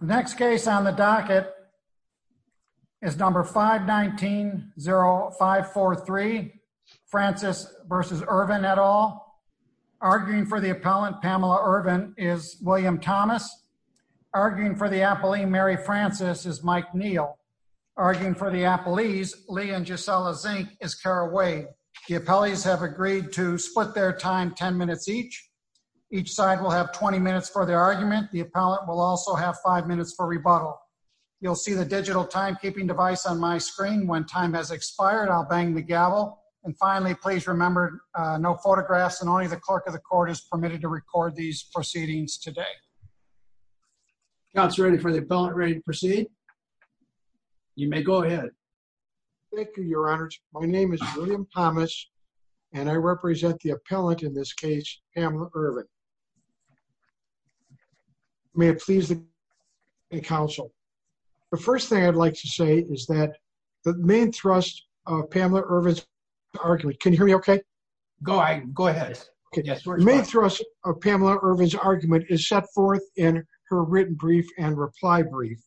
The next case on the docket is number 519-0543, Francis v. Irvin et al. Arguing for the appellant, Pamela Irvin, is William Thomas. Arguing for the appellee, Mary Francis, is Mike Neal. Arguing for the appellees, Lee and Gisela Zink, is Cara Wade. The appellees have agreed to split their time ten minutes each. Each side will have 20 minutes for their argument. The appellant will also have five minutes for rebuttal. You'll see the digital timekeeping device on my screen. When time has expired, I'll bang the gavel. And finally, please remember no photographs and only the clerk of the court is permitted to record these proceedings today. William Thomas Counsel ready for the appellant, ready to proceed? You may go ahead. William Thomas Thank you, your honors. My name is William Thomas and I represent the appellant in this case, Pamela Irvin. May it please the counsel. The first thing I'd like to say is that the main thrust of Pamela Irvin's argument, can you hear me? Okay, go ahead. The main thrust of Pamela Irvin's argument is set forth in her written brief and reply brief.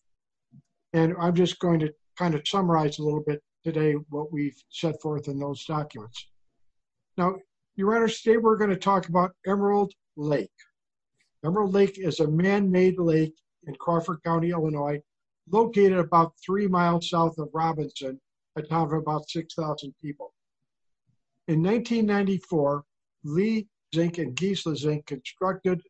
And I'm just going to kind of summarize a little bit today what we've set forth in those documents. Now, your first point is Emerald Lake. Emerald Lake is a man-made lake in Crawford County, Illinois, located about three miles south of Robinson, a town of about 6,000 people. In 1994, Lee Zink and Gisla Zink constructed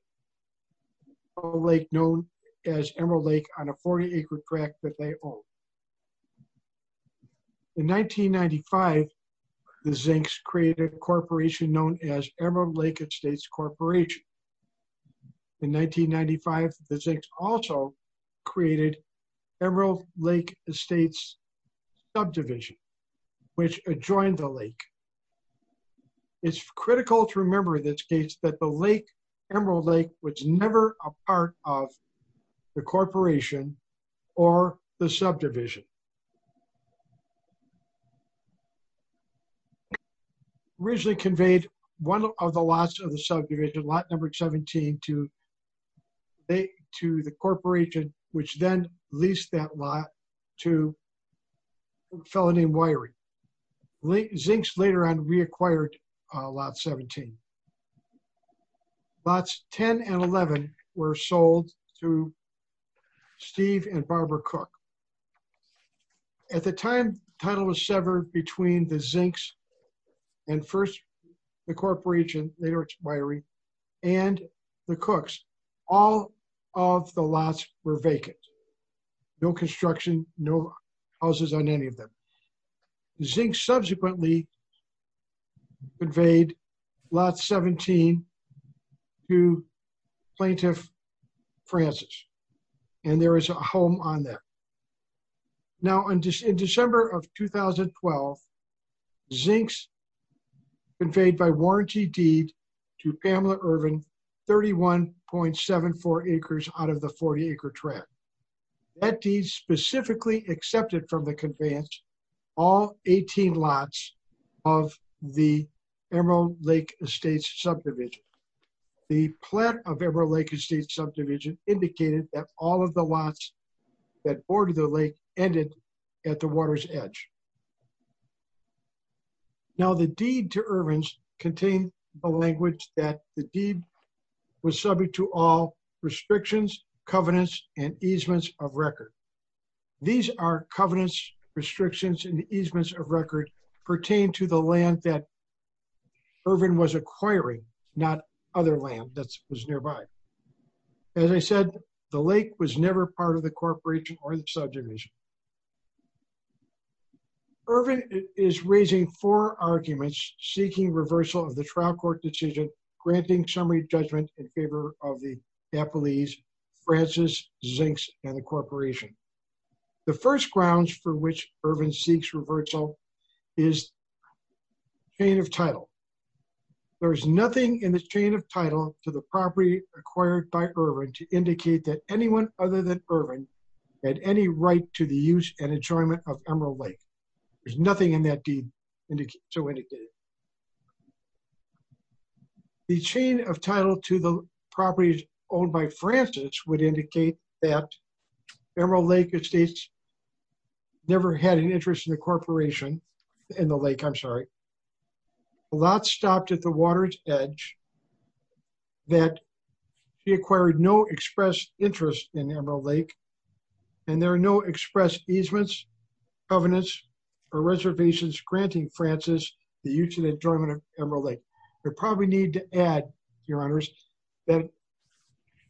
a lake known as Emerald Lake on a 40 acre tract that they operated. In 1995, the Zinks also created Emerald Lake Estates Subdivision, which adjoined the lake. It's critical to remember in this case that the lake, Emerald Lake, was never a part of the corporation or the subdivision. It originally conveyed one of the lots of the subdivision, lot number 17, to the corporation, which then leased that lot to a fellow named Wyrie. Zinks later on reacquired lot 17. Lots 10 and 11 were sold to Steve and Barbara Cook. At the time, the title was severed between the Zinks and first the corporation, later it's Wyrie, and the Cooks. All of the lots were vacant. No construction, no houses on any of them. Zinks subsequently conveyed lot 17 to Plaintiff Francis, and there is a home on that. Now, in December of 2012, Zinks conveyed by warranty deed to Pamela Irvin 31.74 acres out of the 40 lots of the Emerald Lake Estates Subdivision. The plot of Emerald Lake Estates Subdivision indicated that all of the lots that bordered the lake ended at the water's edge. Now, the deed to Irvin's contained the language that the deed was subject to all restrictions, covenants, and easements of record pertain to the land that Irvin was acquiring, not other land that was nearby. As I said, the lake was never part of the corporation or the subdivision. Irvin is raising four arguments seeking reversal of the trial court decision granting summary judgment in favor of the is chain of title. There is nothing in the chain of title to the property acquired by Irvin to indicate that anyone other than Irvin had any right to the use and enjoyment of Emerald Lake. There's nothing in that deed to indicate. The chain of title to the properties owned by Francis would indicate that Emerald Lake Estates never had an interest in the corporation in the lake. I'm sorry. A lot stopped at the water's edge that he acquired no express interest in Emerald Lake, and there are no express easements, covenants, or reservations granting Francis the use and add, your honors, that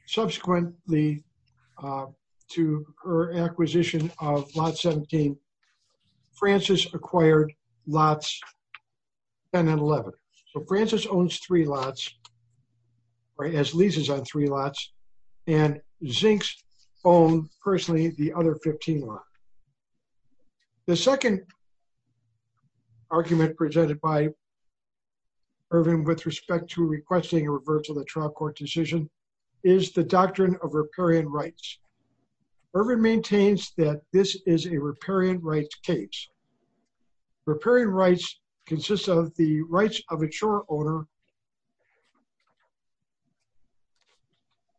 subsequently to her acquisition of lot 17, Francis acquired lots 10 and 11. So Francis owns three lots, as leases on three lots, and Zinks owned personally the other 15 lot. The second argument presented by Irvin with respect to requesting a reversal of the trial court decision is the doctrine of riparian rights. Irvin maintains that this is a riparian rights case. Riparian rights consists of the rights of a sure owner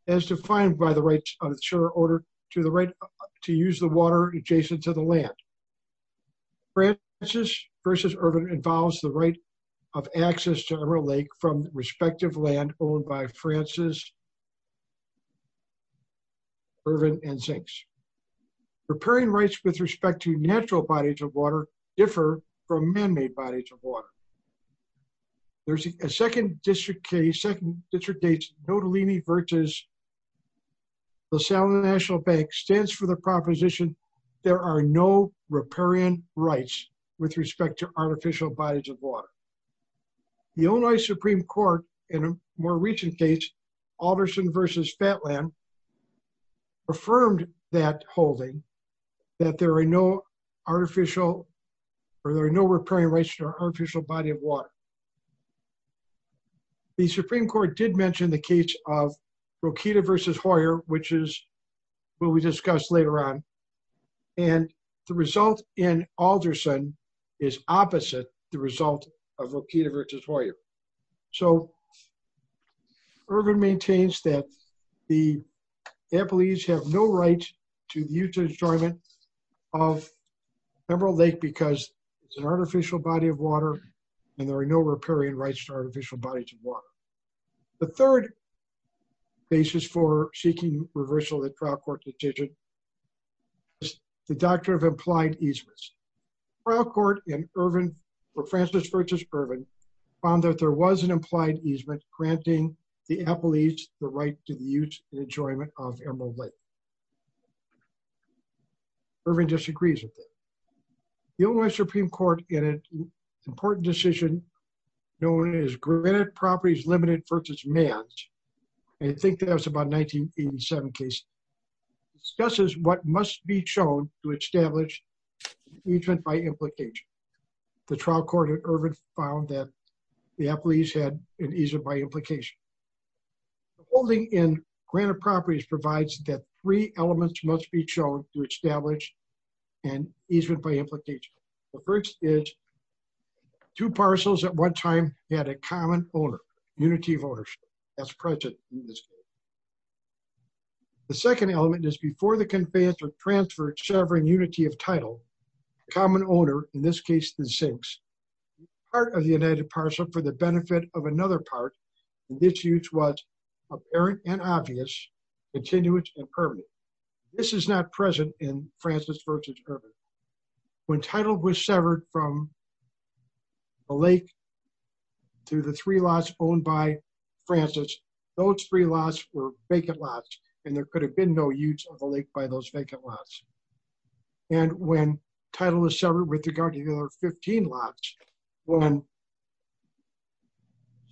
as defined by the use of the water adjacent to the land. Francis v. Irvin involves the right of access to Emerald Lake from respective land owned by Francis, Irvin, and Zinks. Riparian rights with respect to natural bodies of water differ from man-made bodies of water. There's a second district case, second position, there are no riparian rights with respect to artificial bodies of water. The Illinois Supreme Court in a more recent case, Alderson v. Fatland, affirmed that holding that there are no artificial or there are no riparian rights to an artificial body of water. The Supreme Court did the case of Rokita v. Hoyer, which is what we discussed later on, and the result in Alderson is opposite the result of Rokita v. Hoyer. So Irvin maintains that the employees have no right to the use and enjoyment of Emerald Lake because it's an artificial body of water, and there are no riparian rights to artificial bodies of water. The third basis for seeking reversal of the trial court decision is the doctrine of implied easements. Trial court in Irvin for Francis v. Irvin found that there was an implied easement granting the employees the right to the use and enjoyment of known as granted properties limited versus mans, and I think that was about 1987 case, discusses what must be shown to establish easement by implication. The trial court at Irvin found that the employees had an easement by implication. Holding in granted properties provides that three elements must be shown to establish an easement by implication. The first is two parcels at the same time had a common owner, unity of ownership, that's present in this case. The second element is before the conveyance of transferred severing unity of title, common owner, in this case the sinks, part of the united parcel for the benefit of another part, and this use was apparent and obvious, continuous and permanent. This is not present in Francis v. Irvin. When title was severed from the lake to the three lots owned by Francis, those three lots were vacant lots and there could have been no use of the lake by those vacant lots. And when title is severed with regard to the other 15 lots, when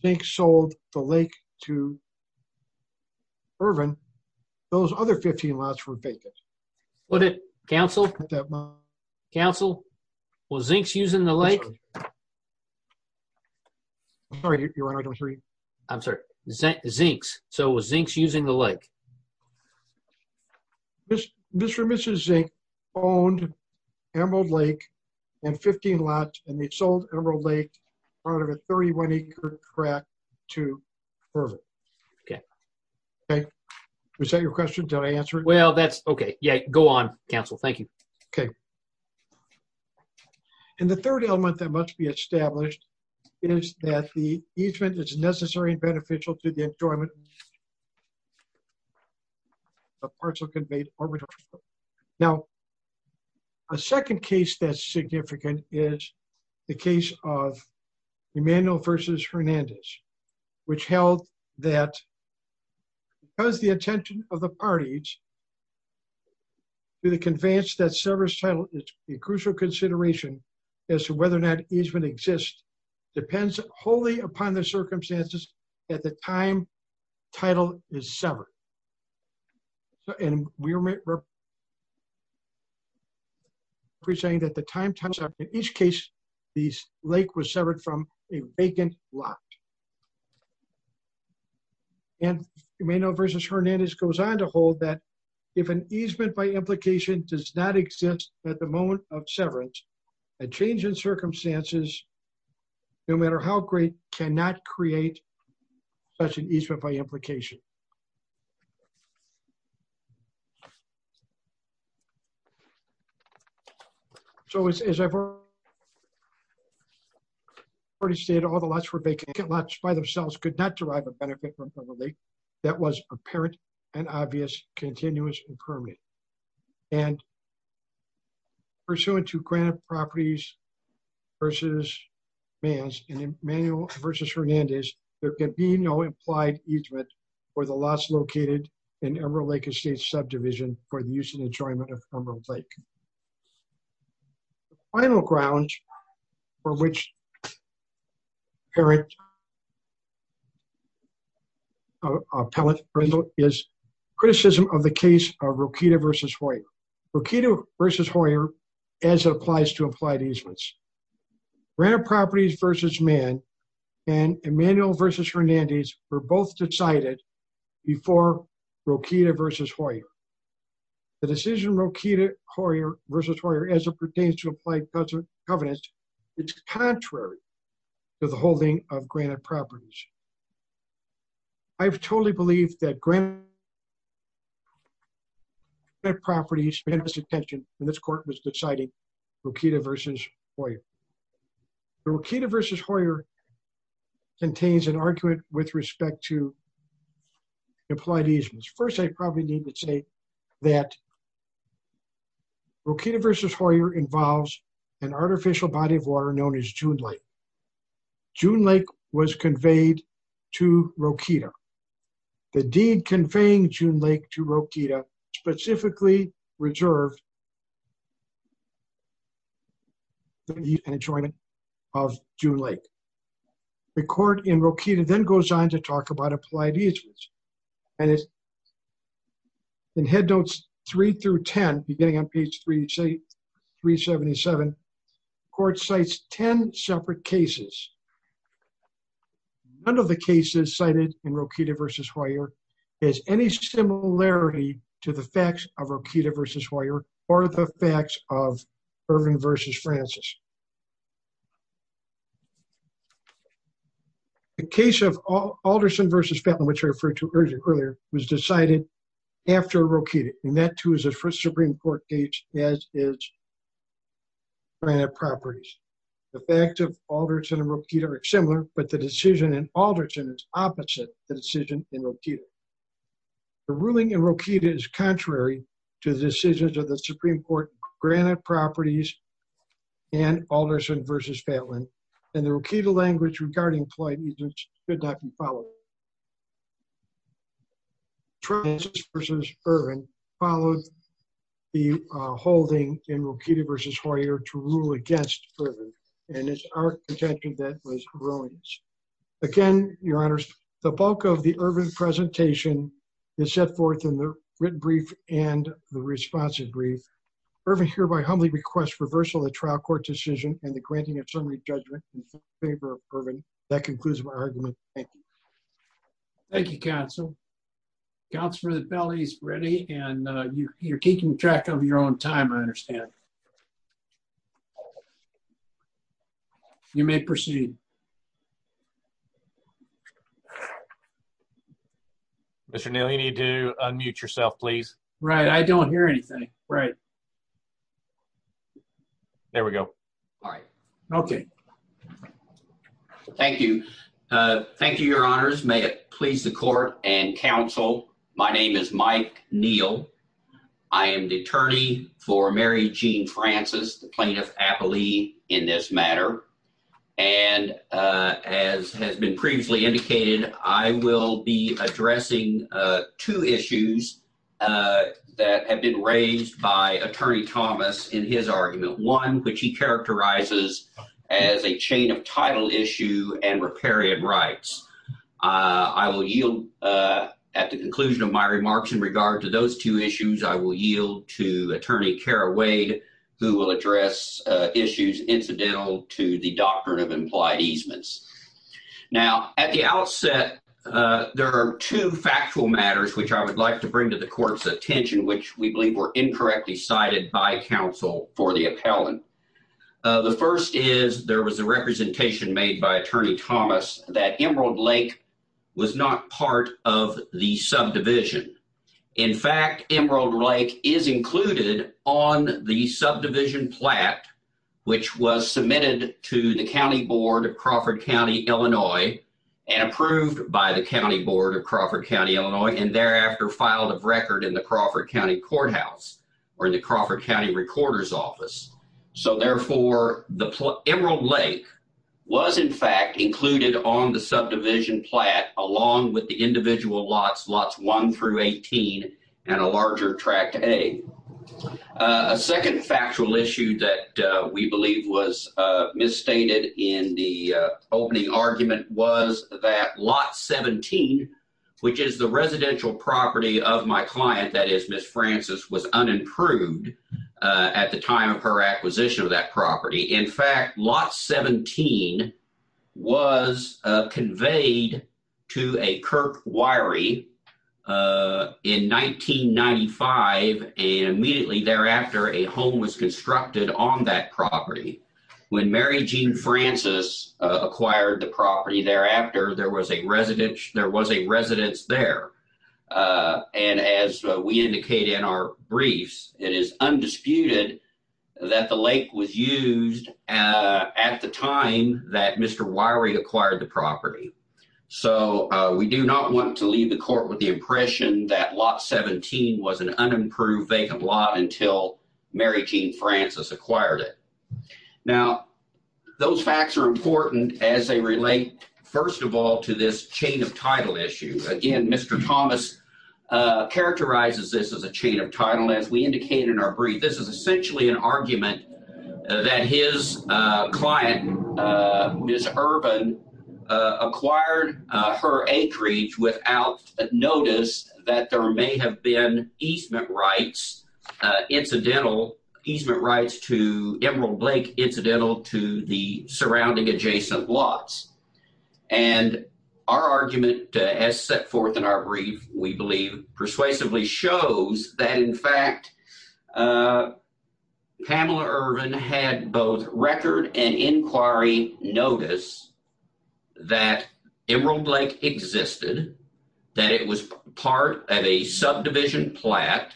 Zinx sold the lake to Irvin, those other 15 lots were vacant. Counsel, was Zinx using the lake? I'm sorry, your honor, I don't hear you. I'm sorry, Zinx, so was Zinx using the lake? Mr. and Mrs. Zinx owned Emerald Lake and 15 lots and they sold Emerald Lake, part of a 31-acre crack, to Irvin. Okay. Okay, was that your question? Did I answer it? Well, that's okay. Yeah, go on, counsel. Thank you. Okay. And the third element that must be established is that the easement is necessary and beneficial to the enjoyment of parcel-conveyed arbitrage. Now, a second case that's significant is the case of Emmanuel v. Hernandez, which held that because the attention of the parties to the conveyance that severs title is a crucial consideration as to whether or not easement exists depends wholly upon the circumstances at the time title is severed. And we're saying that the time, in each case, the lake was severed from a vacant lot. And Emmanuel v. Hernandez goes on to hold that if an easement by implication does not exist at the moment of severance, a change in circumstances, no matter how great, cannot create such an easement by implication. So, as I've already stated, all the lots were vacant, lots by themselves could not derive a benefit from the lake that was apparent and obvious, continuous and permanent. And pursuant to Grant Properties v. Manns and Emmanuel v. Hernandez, there can be no implied easement for the lots located in Emerald Lake Estate subdivision for the use and enjoyment of Emerald Lake. The final grounds for which apparent is criticism of the case of Rokita v. Hoyer. Rokita v. Hoyer, as it applies to implied easements. Grant Properties v. Mann and Emmanuel v. Hernandez were both decided before Rokita v. Hoyer. The decision Rokita v. Hoyer, as it pertains to implied easements, is contrary to the holding of Granted Properties. I've totally believed that Granted Properties spent its attention when this court was deciding Rokita v. Hoyer. Rokita v. Hoyer contains an argument with respect to implied easements. First, I probably need to say that Rokita v. Hoyer involves an artificial body of water known as June Lake. June Lake was conveyed to Rokita. The deed conveying June Lake to Rokita specifically reserved the use and enjoyment of June Lake. The court in Rokita then goes on to talk about applied easements. And in Headnotes 3-10, beginning on page 377, the court cites 10 separate cases. None of the cases cited in Rokita v. Hoyer has any similarity to the facts of Rokita v. Hoyer or the facts of Irvin v. Francis. The case of Alderson v. Fetland, which I referred to earlier, was decided after Rokita. And that, too, is a Supreme Court case, as is Granted Properties. The facts of Alderson and Rokita are similar, but the decision in Alderson is opposite the decision in Rokita. The ruling in Rokita is contrary to the decisions of the Supreme Court in Granted Properties and Alderson v. Fetland. And the Rokita language regarding applied easements should not be followed. Francis v. Irvin followed the holding in Rokita v. Hoyer to rule against Irvin. And it's our contention that it was Irvin's. Again, Your Honors, the bulk of the Irvin presentation is set forth in the written brief and the responsive brief. Irvin hereby humbly requests reversal of the trial court decision and the granting of summary judgment in favor of Irvin. That concludes my argument. Thank you. Thank you, Counsel. Counselor, the penalty is ready, and you're keeping track of your own time, I understand. You may proceed. Mr. Neely, you need to unmute yourself, please. Right. I don't hear anything. Right. There we go. All right. Okay. Thank you. Thank you, Your Honors. May it please the court and counsel. My name is Mike Neal. I am the attorney for Mary Jean Francis, the plaintiff, aptly in this matter. And as has been previously indicated, I will be addressing two issues that have been raised by Attorney Thomas in his argument. One, which he characterizes as a chain of title issue and riparian rights. I will yield at the conclusion of my remarks in regard to those two issues. I will yield to Attorney Kara Wade, who will address issues incidental to the doctrine of implied easements. Now, at the outset, there are two factual matters which I would like to bring to the court's attention, which we believe were incorrectly cited by counsel for the appellant. The first is there was a representation made by Attorney Thomas that Emerald Lake was not part of the subdivision. In fact, Emerald Lake is included on the subdivision plat, which was submitted to the County Board of Crawford County, Illinois, and approved by the County Board of Crawford County, Illinois, and thereafter filed a record in the Crawford County Courthouse or the Crawford County Recorder's Office. So, therefore, Emerald Lake was, in fact, included on the subdivision plat along with the individual lots, Lots 1 through 18 and a larger Tract A. A second factual issue that we believe was misstated in the opening argument was that Lot 17, which is the residential property of my client, that is, Ms. Francis, was unimproved at the time of her acquisition of that property. In fact, Lot 17 was conveyed to a Kirk Wiry in 1995, and immediately thereafter, a home was constructed on that property. When Mary Jean Francis acquired the property thereafter, there was a residence there, and as we indicate in our briefs, it is undisputed that the lake was used at the time that Mr. Wiry acquired the property. So, we do not want to leave the court with the impression that Lot 17 was an unimproved vacant lot until Mary Jean Francis acquired it. Now, those facts are important as they relate, first of all, to this chain of title issue. Again, Mr. Thomas characterizes this as a chain of title, as we indicate in our brief. This is essentially an argument that his client, Ms. Urban, acquired her acreage without notice that there may have been easement rights, incidental easement rights to Emerald Lake, incidental to the surrounding adjacent lots. And our argument, as set forth in our brief, we believe persuasively shows that, in fact, Pamela Urban had both record and inquiry notice that Emerald Lake existed, that it was part of a subdivision plot,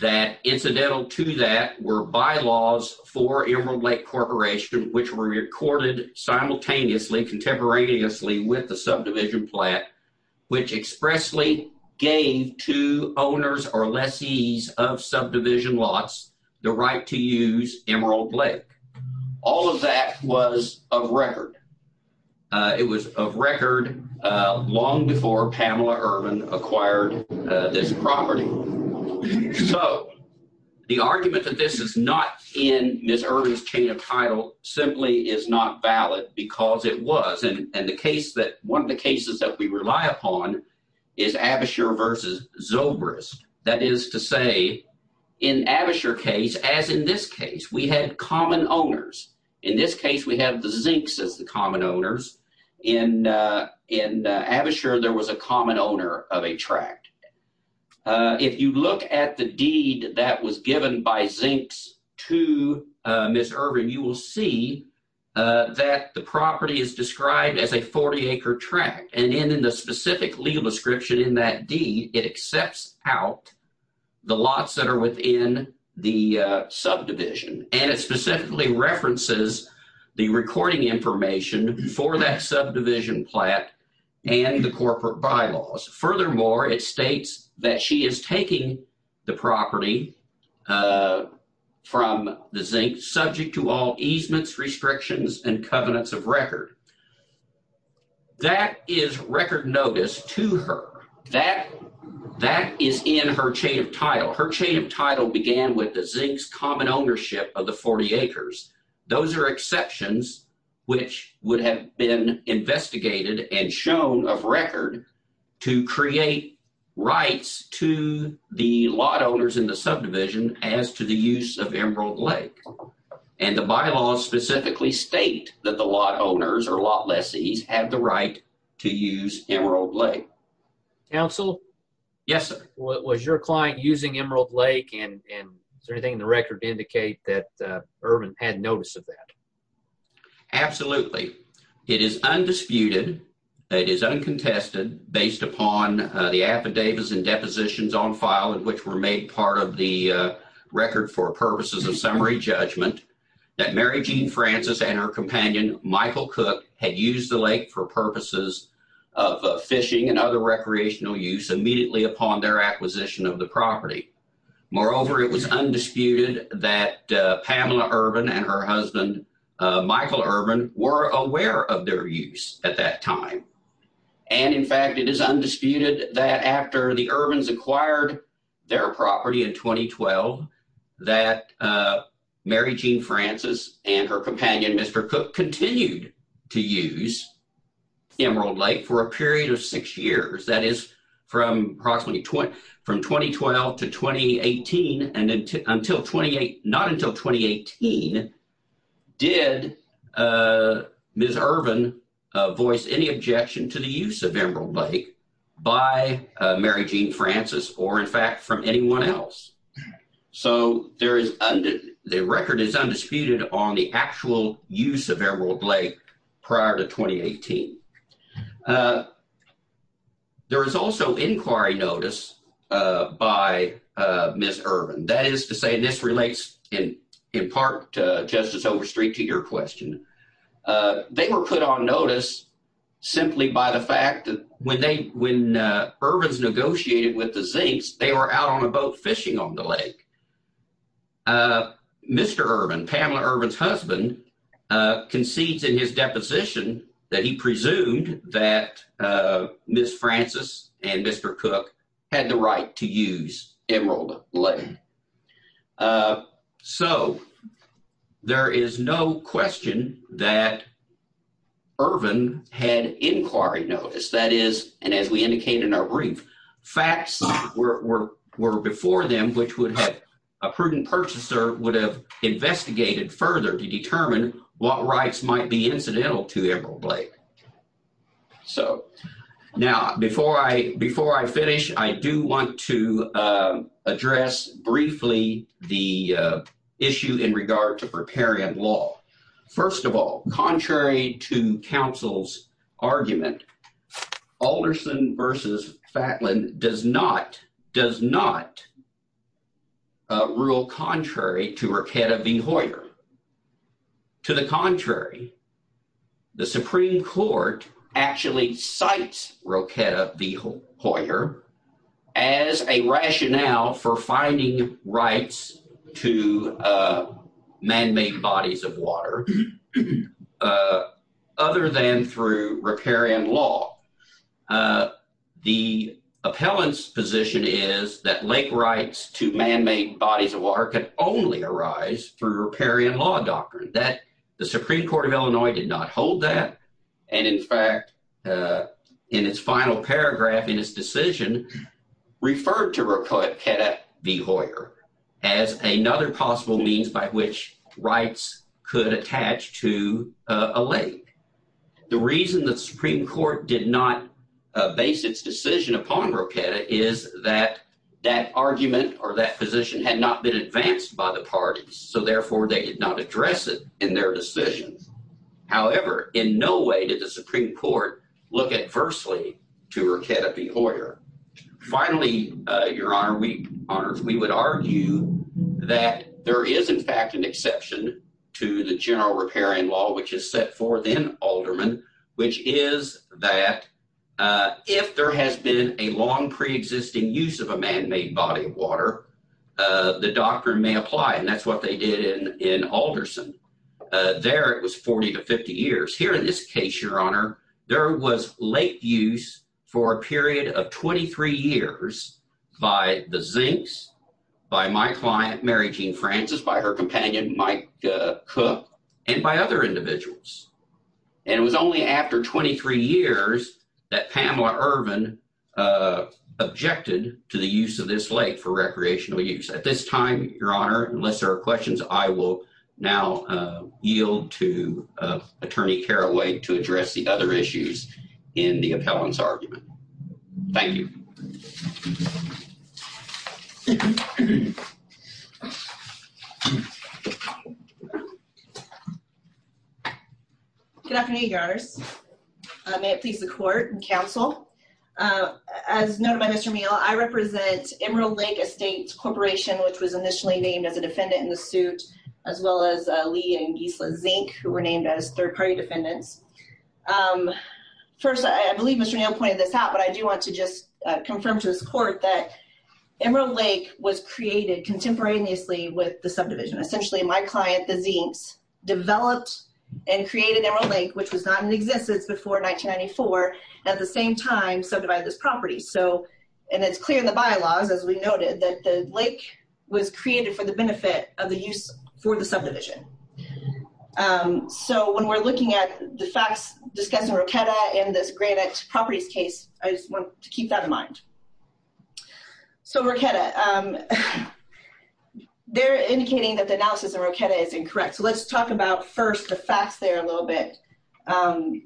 that incidental to that were bylaws for Emerald Lake Corporation, which were recorded simultaneously, contemporaneously with the subdivision plot, which expressly gave to owners or lessees of subdivision lots the right to use Emerald Lake. All of that was of record. It was of record long before Pamela Urban acquired this property. So the argument that this is not in Ms. Urban's chain of title simply is not valid because it was. And the case that one of the cases that we rely upon is Abashur versus Zobrist. That is to say, in Abashur case, as in this case, we had common owners. In this case, we have the Zinks as the common owners. In Abashur, there was a common owner of a tract. If you look at the deed that was given by Zinks to Ms. Urban, you will see that the property is described as a 40-acre tract. And in the specific legal description in that deed, it accepts out the lots that are within the subdivision. And it specifically references the recording information for that subdivision plot and the corporate bylaws. Furthermore, it states that she is taking the property from the Zinks subject to all easements, restrictions, and covenants of record. That is record notice to her. That is in her chain of title. Her chain of title began with the Zinks common ownership of the 40 acres. Those are exceptions which would have been investigated and shown of record to create rights to the lot owners in the subdivision as to the use of Emerald Lake. And the bylaws specifically state that the lot owners or lot lessees have the right to use Emerald Lake. Counsel? Yes, sir. Was your client using Emerald Lake, and is there anything in the record to indicate that Urban had notice of that? Absolutely. It is undisputed, it is uncontested, based upon the affidavits and depositions on file which were made part of the record for purposes of summary judgment, that Mary Jean Francis and her companion Michael Cook had used the lake for purposes of fishing and other recreational use immediately upon their acquisition of the property. Moreover, it was undisputed that Pamela Urban and her husband Michael Urban were aware of their use at that time. And in fact, it is undisputed that after the Urbans acquired their property in 2012, that Mary Jean Francis and her companion Mr. Cook continued to use Emerald Lake for a period of six years. That is, from 2012 to 2018, and not until 2018, did Ms. Urban voice any objection to the use of Emerald Lake by Mary Jean Francis, or in fact from anyone else. So the record is undisputed on the actual use of Emerald Lake prior to 2018. There is also inquiry notice by Ms. Urban. That is to say, and this relates in part to Justice Overstreet to your question, they were put on notice simply by the fact that when Urbans negotiated with the Zinks, they were out on a boat fishing on the lake. Mr. Urban, Pamela Urban's husband, concedes in his deposition that he presumed that Ms. Francis and Mr. Cook had the right to use Emerald Lake. So there is no question that Urban had inquiry notice. That is, and as we indicate in our brief, facts were before them which would have, a prudent purchaser would have investigated further to determine what rights might be incidental to Emerald Lake. So now, before I finish, I do want to address briefly the issue in regard to preparium law. First of all, contrary to counsel's argument, Alderson v. Fatlin does not, does not rule contrary to Rochetta v. Hoyer. To the contrary, the Supreme Court actually cites Rochetta v. Hoyer as a rationale for finding rights to man-made bodies of water other than through preparium law. The appellant's position is that lake rights to man-made bodies of water can only arise through preparium law doctrine. The Supreme Court of Illinois did not hold that, and in fact, in its final paragraph in its decision, referred to Rochetta v. Hoyer as another possible means by which rights could attach to a lake. The reason the Supreme Court did not base its decision upon Rochetta is that that argument or that position had not been advanced by the parties, so therefore they did not address it in their decisions. However, in no way did the Supreme Court look adversely to Rochetta v. Hoyer. Finally, Your Honor, we would argue that there is, in fact, an exception to the general preparium law which is set forth in Alderman, which is that if there has been a long preexisting use of a man-made body of water, the doctrine may apply, and that's what they did in Alderson. There it was 40 to 50 years. Here in this case, Your Honor, there was lake use for a period of 23 years by the Zinks, by my client Mary Jean Francis, by her companion Mike Cook, and by other individuals. And it was only after 23 years that Pamela Irvin objected to the use of this lake for recreational use. At this time, Your Honor, unless there are questions, I will now yield to Attorney Carraway to address the other issues in the appellant's argument. Thank you. Good afternoon, Your Honors. As noted by Mr. Neal, I represent Emerald Lake Estates Corporation, which was initially named as a defendant in the suit, as well as Lee and Gisla Zink, who were named as third-party defendants. First, I believe Mr. Neal pointed this out, but I do want to just confirm to this court that Emerald Lake was created contemporaneously with the subdivision. Essentially, my client, the Zinks, developed and created Emerald Lake, which was not in existence before 1994, at the same time subdivided this property. And it's clear in the bylaws, as we noted, that the lake was created for the benefit of the use for the subdivision. So when we're looking at the facts discussing Rochetta and this Granite Properties case, I just want to keep that in mind. So Rochetta, they're indicating that the analysis of Rochetta is incorrect. So let's talk about, first, the facts there a little bit.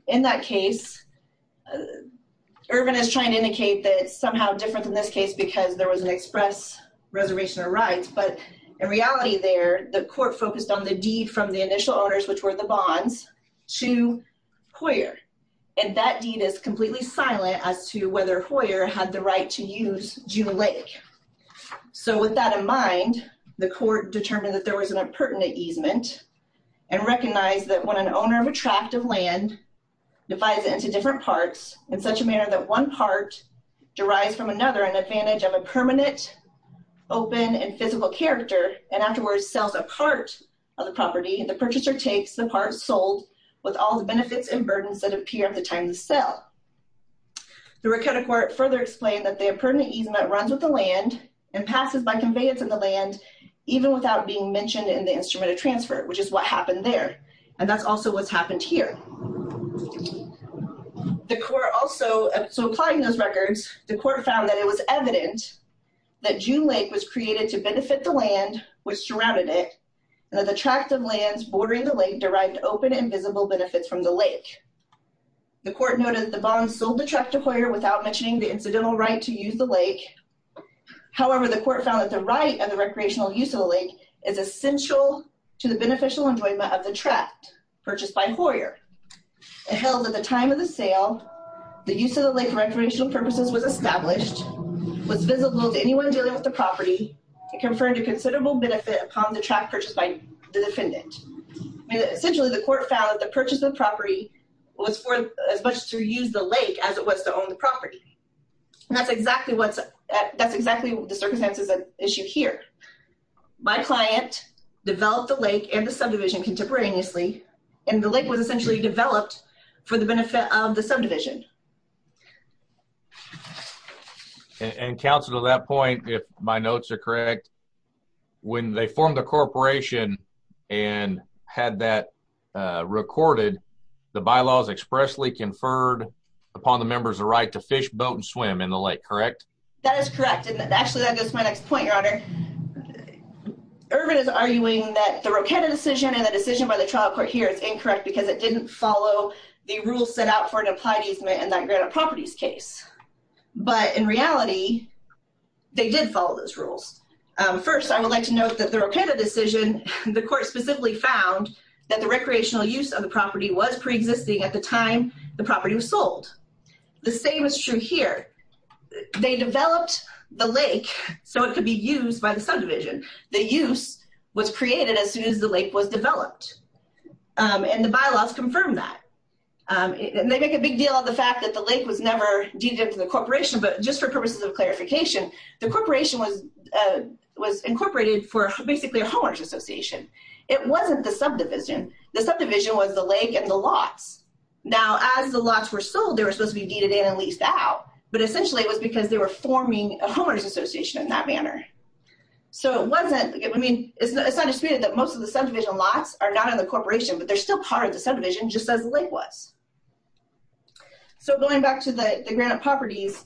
In that case, Irvin is trying to indicate that it's somehow different than this case because there was an express reservation of rights. But in reality there, the court focused on the deed from the initial owners, which were the Bonds, to Hoyer. And that deed is completely silent as to whether Hoyer had the right to use June Lake. So with that in mind, the court determined that there was an impertinent easement and recognized that when an owner of a tract of land divides it into different parts, in such a manner that one part derives from another an advantage of a permanent, open, and physical character, and afterwards sells a part of the property, the purchaser takes the part sold with all the benefits and burdens that appear at the time of the sale. The Rochetta court further explained that the impertinent easement runs with the land and passes by conveyance of the land, even without being mentioned in the instrument of transfer, which is what happened there. And that's also what's happened here. So applying those records, the court found that it was evident that June Lake was created to benefit the land which surrounded it, and that the tract of land bordering the lake derived open and visible benefits from the lake. The court noted that the Bonds sold the tract to Hoyer without mentioning the incidental right to use the lake. However, the court found that the right of the recreational use of the lake is essential to the beneficial enjoyment of the tract purchased by Hoyer. It held that at the time of the sale, the use of the lake for recreational purposes was established, was visible to anyone dealing with the property, and conferred a considerable benefit upon the tract purchased by the defendant. Essentially, the court found that the purchase of the property was for as much to use the lake as it was to own the property. And that's exactly the circumstances at issue here. My client developed the lake and the subdivision contemporaneously, and the lake was essentially developed for the benefit of the subdivision. And counsel, to that point, if my notes are correct, when they formed the corporation and had that recorded, the bylaws expressly conferred upon the members the right to fish, boat, and swim in the lake, correct? That is correct, and actually that goes to my next point, your honor. Irvin is arguing that the Rocada decision and the decision by the trial court here is incorrect because it didn't follow the rules set out for an applied easement in that Granite Properties case. But in reality, they did follow those rules. First, I would like to note that the Rocada decision, the court specifically found that the recreational use of the property was preexisting at the time the property was sold. The same is true here. They developed the lake so it could be used by the subdivision. The use was created as soon as the lake was developed, and the bylaws confirm that. They make a big deal of the fact that the lake was never deeded into the corporation, but just for purposes of clarification, the corporation was incorporated for basically a homeowners association. It wasn't the subdivision. The subdivision was the lake and the lots. Now, as the lots were sold, they were supposed to be deeded in and leased out, but essentially it was because they were forming a homeowners association in that manner. It's not disputed that most of the subdivision lots are not in the corporation, but they're still part of the subdivision just as the lake was. Going back to the Granite Properties,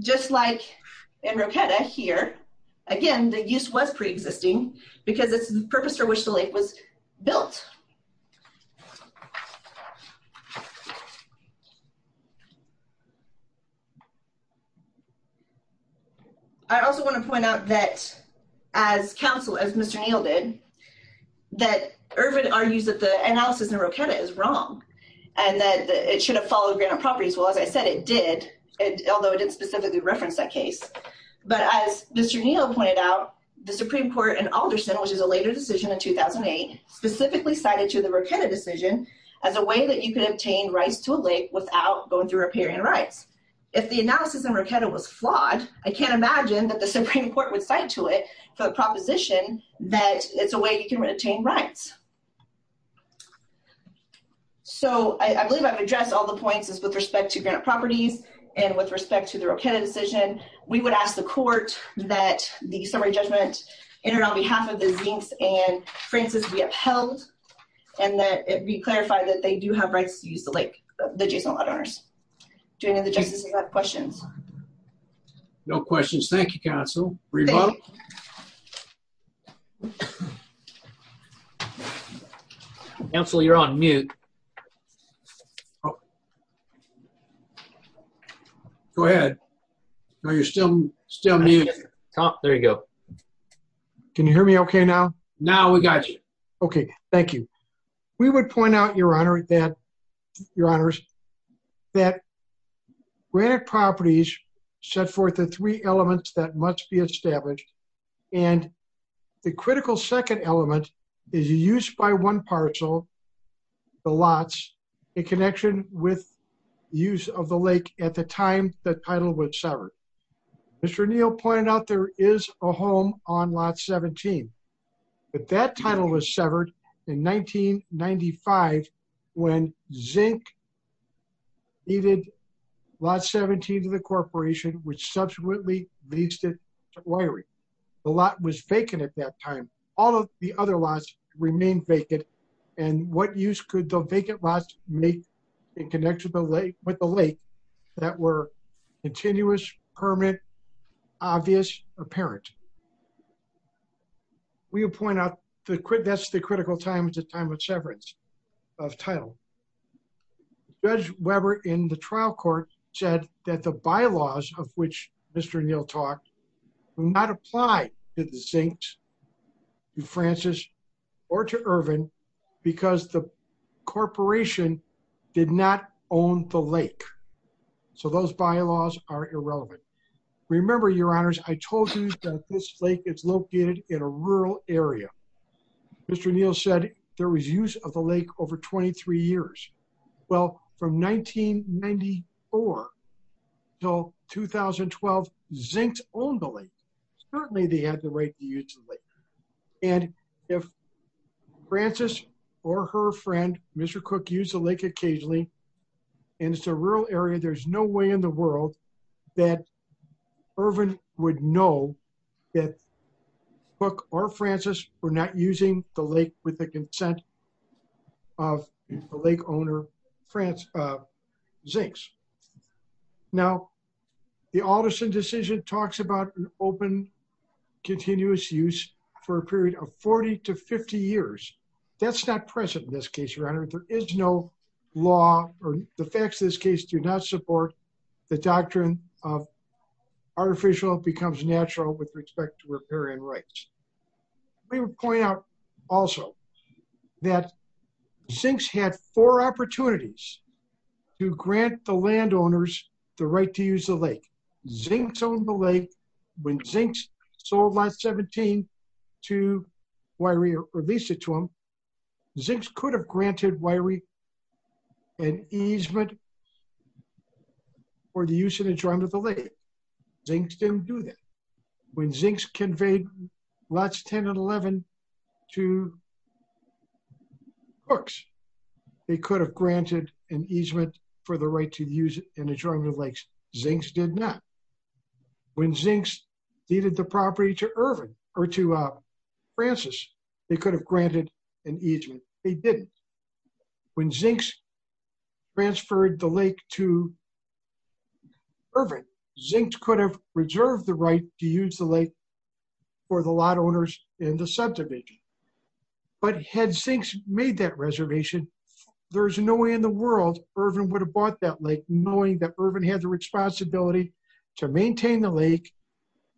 just like in Rocada here, again, the use was preexisting because it's the purpose for which the lake was built. I also want to point out that as counsel, as Mr. Neal did, that Irvin argues that the analysis in Rocada is wrong and that it should have followed Granite Properties. Well, as I said, it did, although it didn't specifically reference that case. But as Mr. Neal pointed out, the Supreme Court in Alderson, which is a later decision in 2008, specifically cited to the Rocada decision as a way that you could obtain rights to a lake without going through riparian rights. If the analysis in Rocada was flawed, I can't imagine that the Supreme Court would cite to it the proposition that it's a way you can obtain rights. So, I believe I've addressed all the points with respect to Granite Properties and with respect to the Rocada decision. We would ask the court that the summary judgment enter on behalf of the Zinks and Francis be upheld and that it be clarified that they do have rights to use the lake. Do any of the justices have questions? No questions. Thank you, counsel. Counsel, you're on mute. Go ahead. No, you're still muted. Oh, there you go. Can you hear me okay now? Now we got you. Okay, thank you. We would point out, Your Honor, that Granite Properties set forth the three elements that must be established. And the critical second element is used by one parcel, the lots, in connection with use of the lake at the time the title was severed. Mr. Neal pointed out there is a home on lot 17. But that title was severed in 1995 when Zink needed lot 17 to the corporation, which subsequently leased it to Wyrie. The lot was vacant at that time. All of the other lots remained vacant. And what use could the vacant lots make in connection with the lake that were continuous, permanent, obvious, or apparent? We would point out that's the critical time at the time of severance of title. Judge Weber in the trial court said that the bylaws of which Mr. Neal talked do not apply to the Zinks, to Francis, or to Irvin, because the corporation did not own the lake. So those bylaws are irrelevant. Remember, Your Honors, I told you that this lake is located in a rural area. Mr. Neal said there was use of the lake over 23 years. Well, from 1994 till 2012, Zinks owned the lake. Certainly they had the right to use the lake. And if Francis or her friend, Mr. Cook, used the lake occasionally, and it's a rural area, there's no way in the world that Irvin would know that Cook or Francis were not using the lake with the consent of the lake owner, Zinks. Now, the Alderson decision talks about an open, continuous use for a period of 40 to 50 years. That's not present in this case, Your Honor. There is no law, or the facts of this case do not support the doctrine of artificial becomes natural with respect to riparian rights. Let me point out also that Zinks had four opportunities to grant the landowners the right to use the lake. Zinks owned the lake. When Zinks sold Lot 17 to Wiry or leased it to them, Zinks could have granted Wiry an easement for the use and enjoyment of the lake. Zinks didn't do that. When Zinks conveyed Lots 10 and 11 to Cooks, they could have granted an easement for the right to use and enjoyment of lakes. Zinks did not. When Zinks deeded the property to Irvin, or to Francis, they could have granted an easement. They didn't. When Zinks transferred the lake to Irvin, Zinks could have reserved the right to use the lake for the lot owners in the subdivision. But had Zinks made that reservation, there's no way in the world Irvin would have bought that lake, knowing that Irvin had the responsibility to maintain the lake,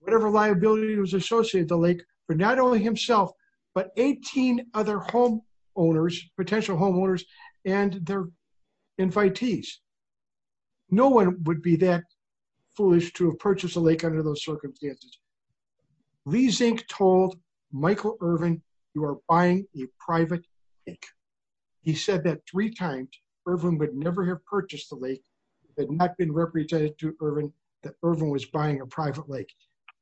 whatever liability was associated with the lake, for not only himself, but 18 other potential homeowners and their invitees. No one would be that foolish to have purchased a lake under those circumstances. Lee Zink told Michael Irvin, you are buying a private lake. He said that three times, Irvin would never have purchased the lake, had not been represented to Irvin, that Irvin was buying a private lake.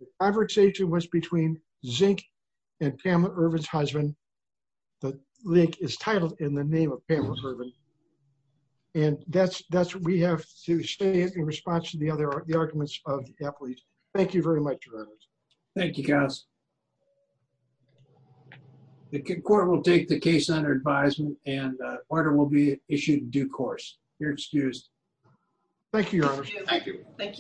The average age was between Zink and Pamela Irvin's husband. The lake is titled in the name of Pamela Irvin. And that's, that's what we have to say in response to the other arguments of the deputies. Thank you very much. Thank you guys. The court will take the case under advisement and order will be issued due course. You're excused. Thank you. Thank you.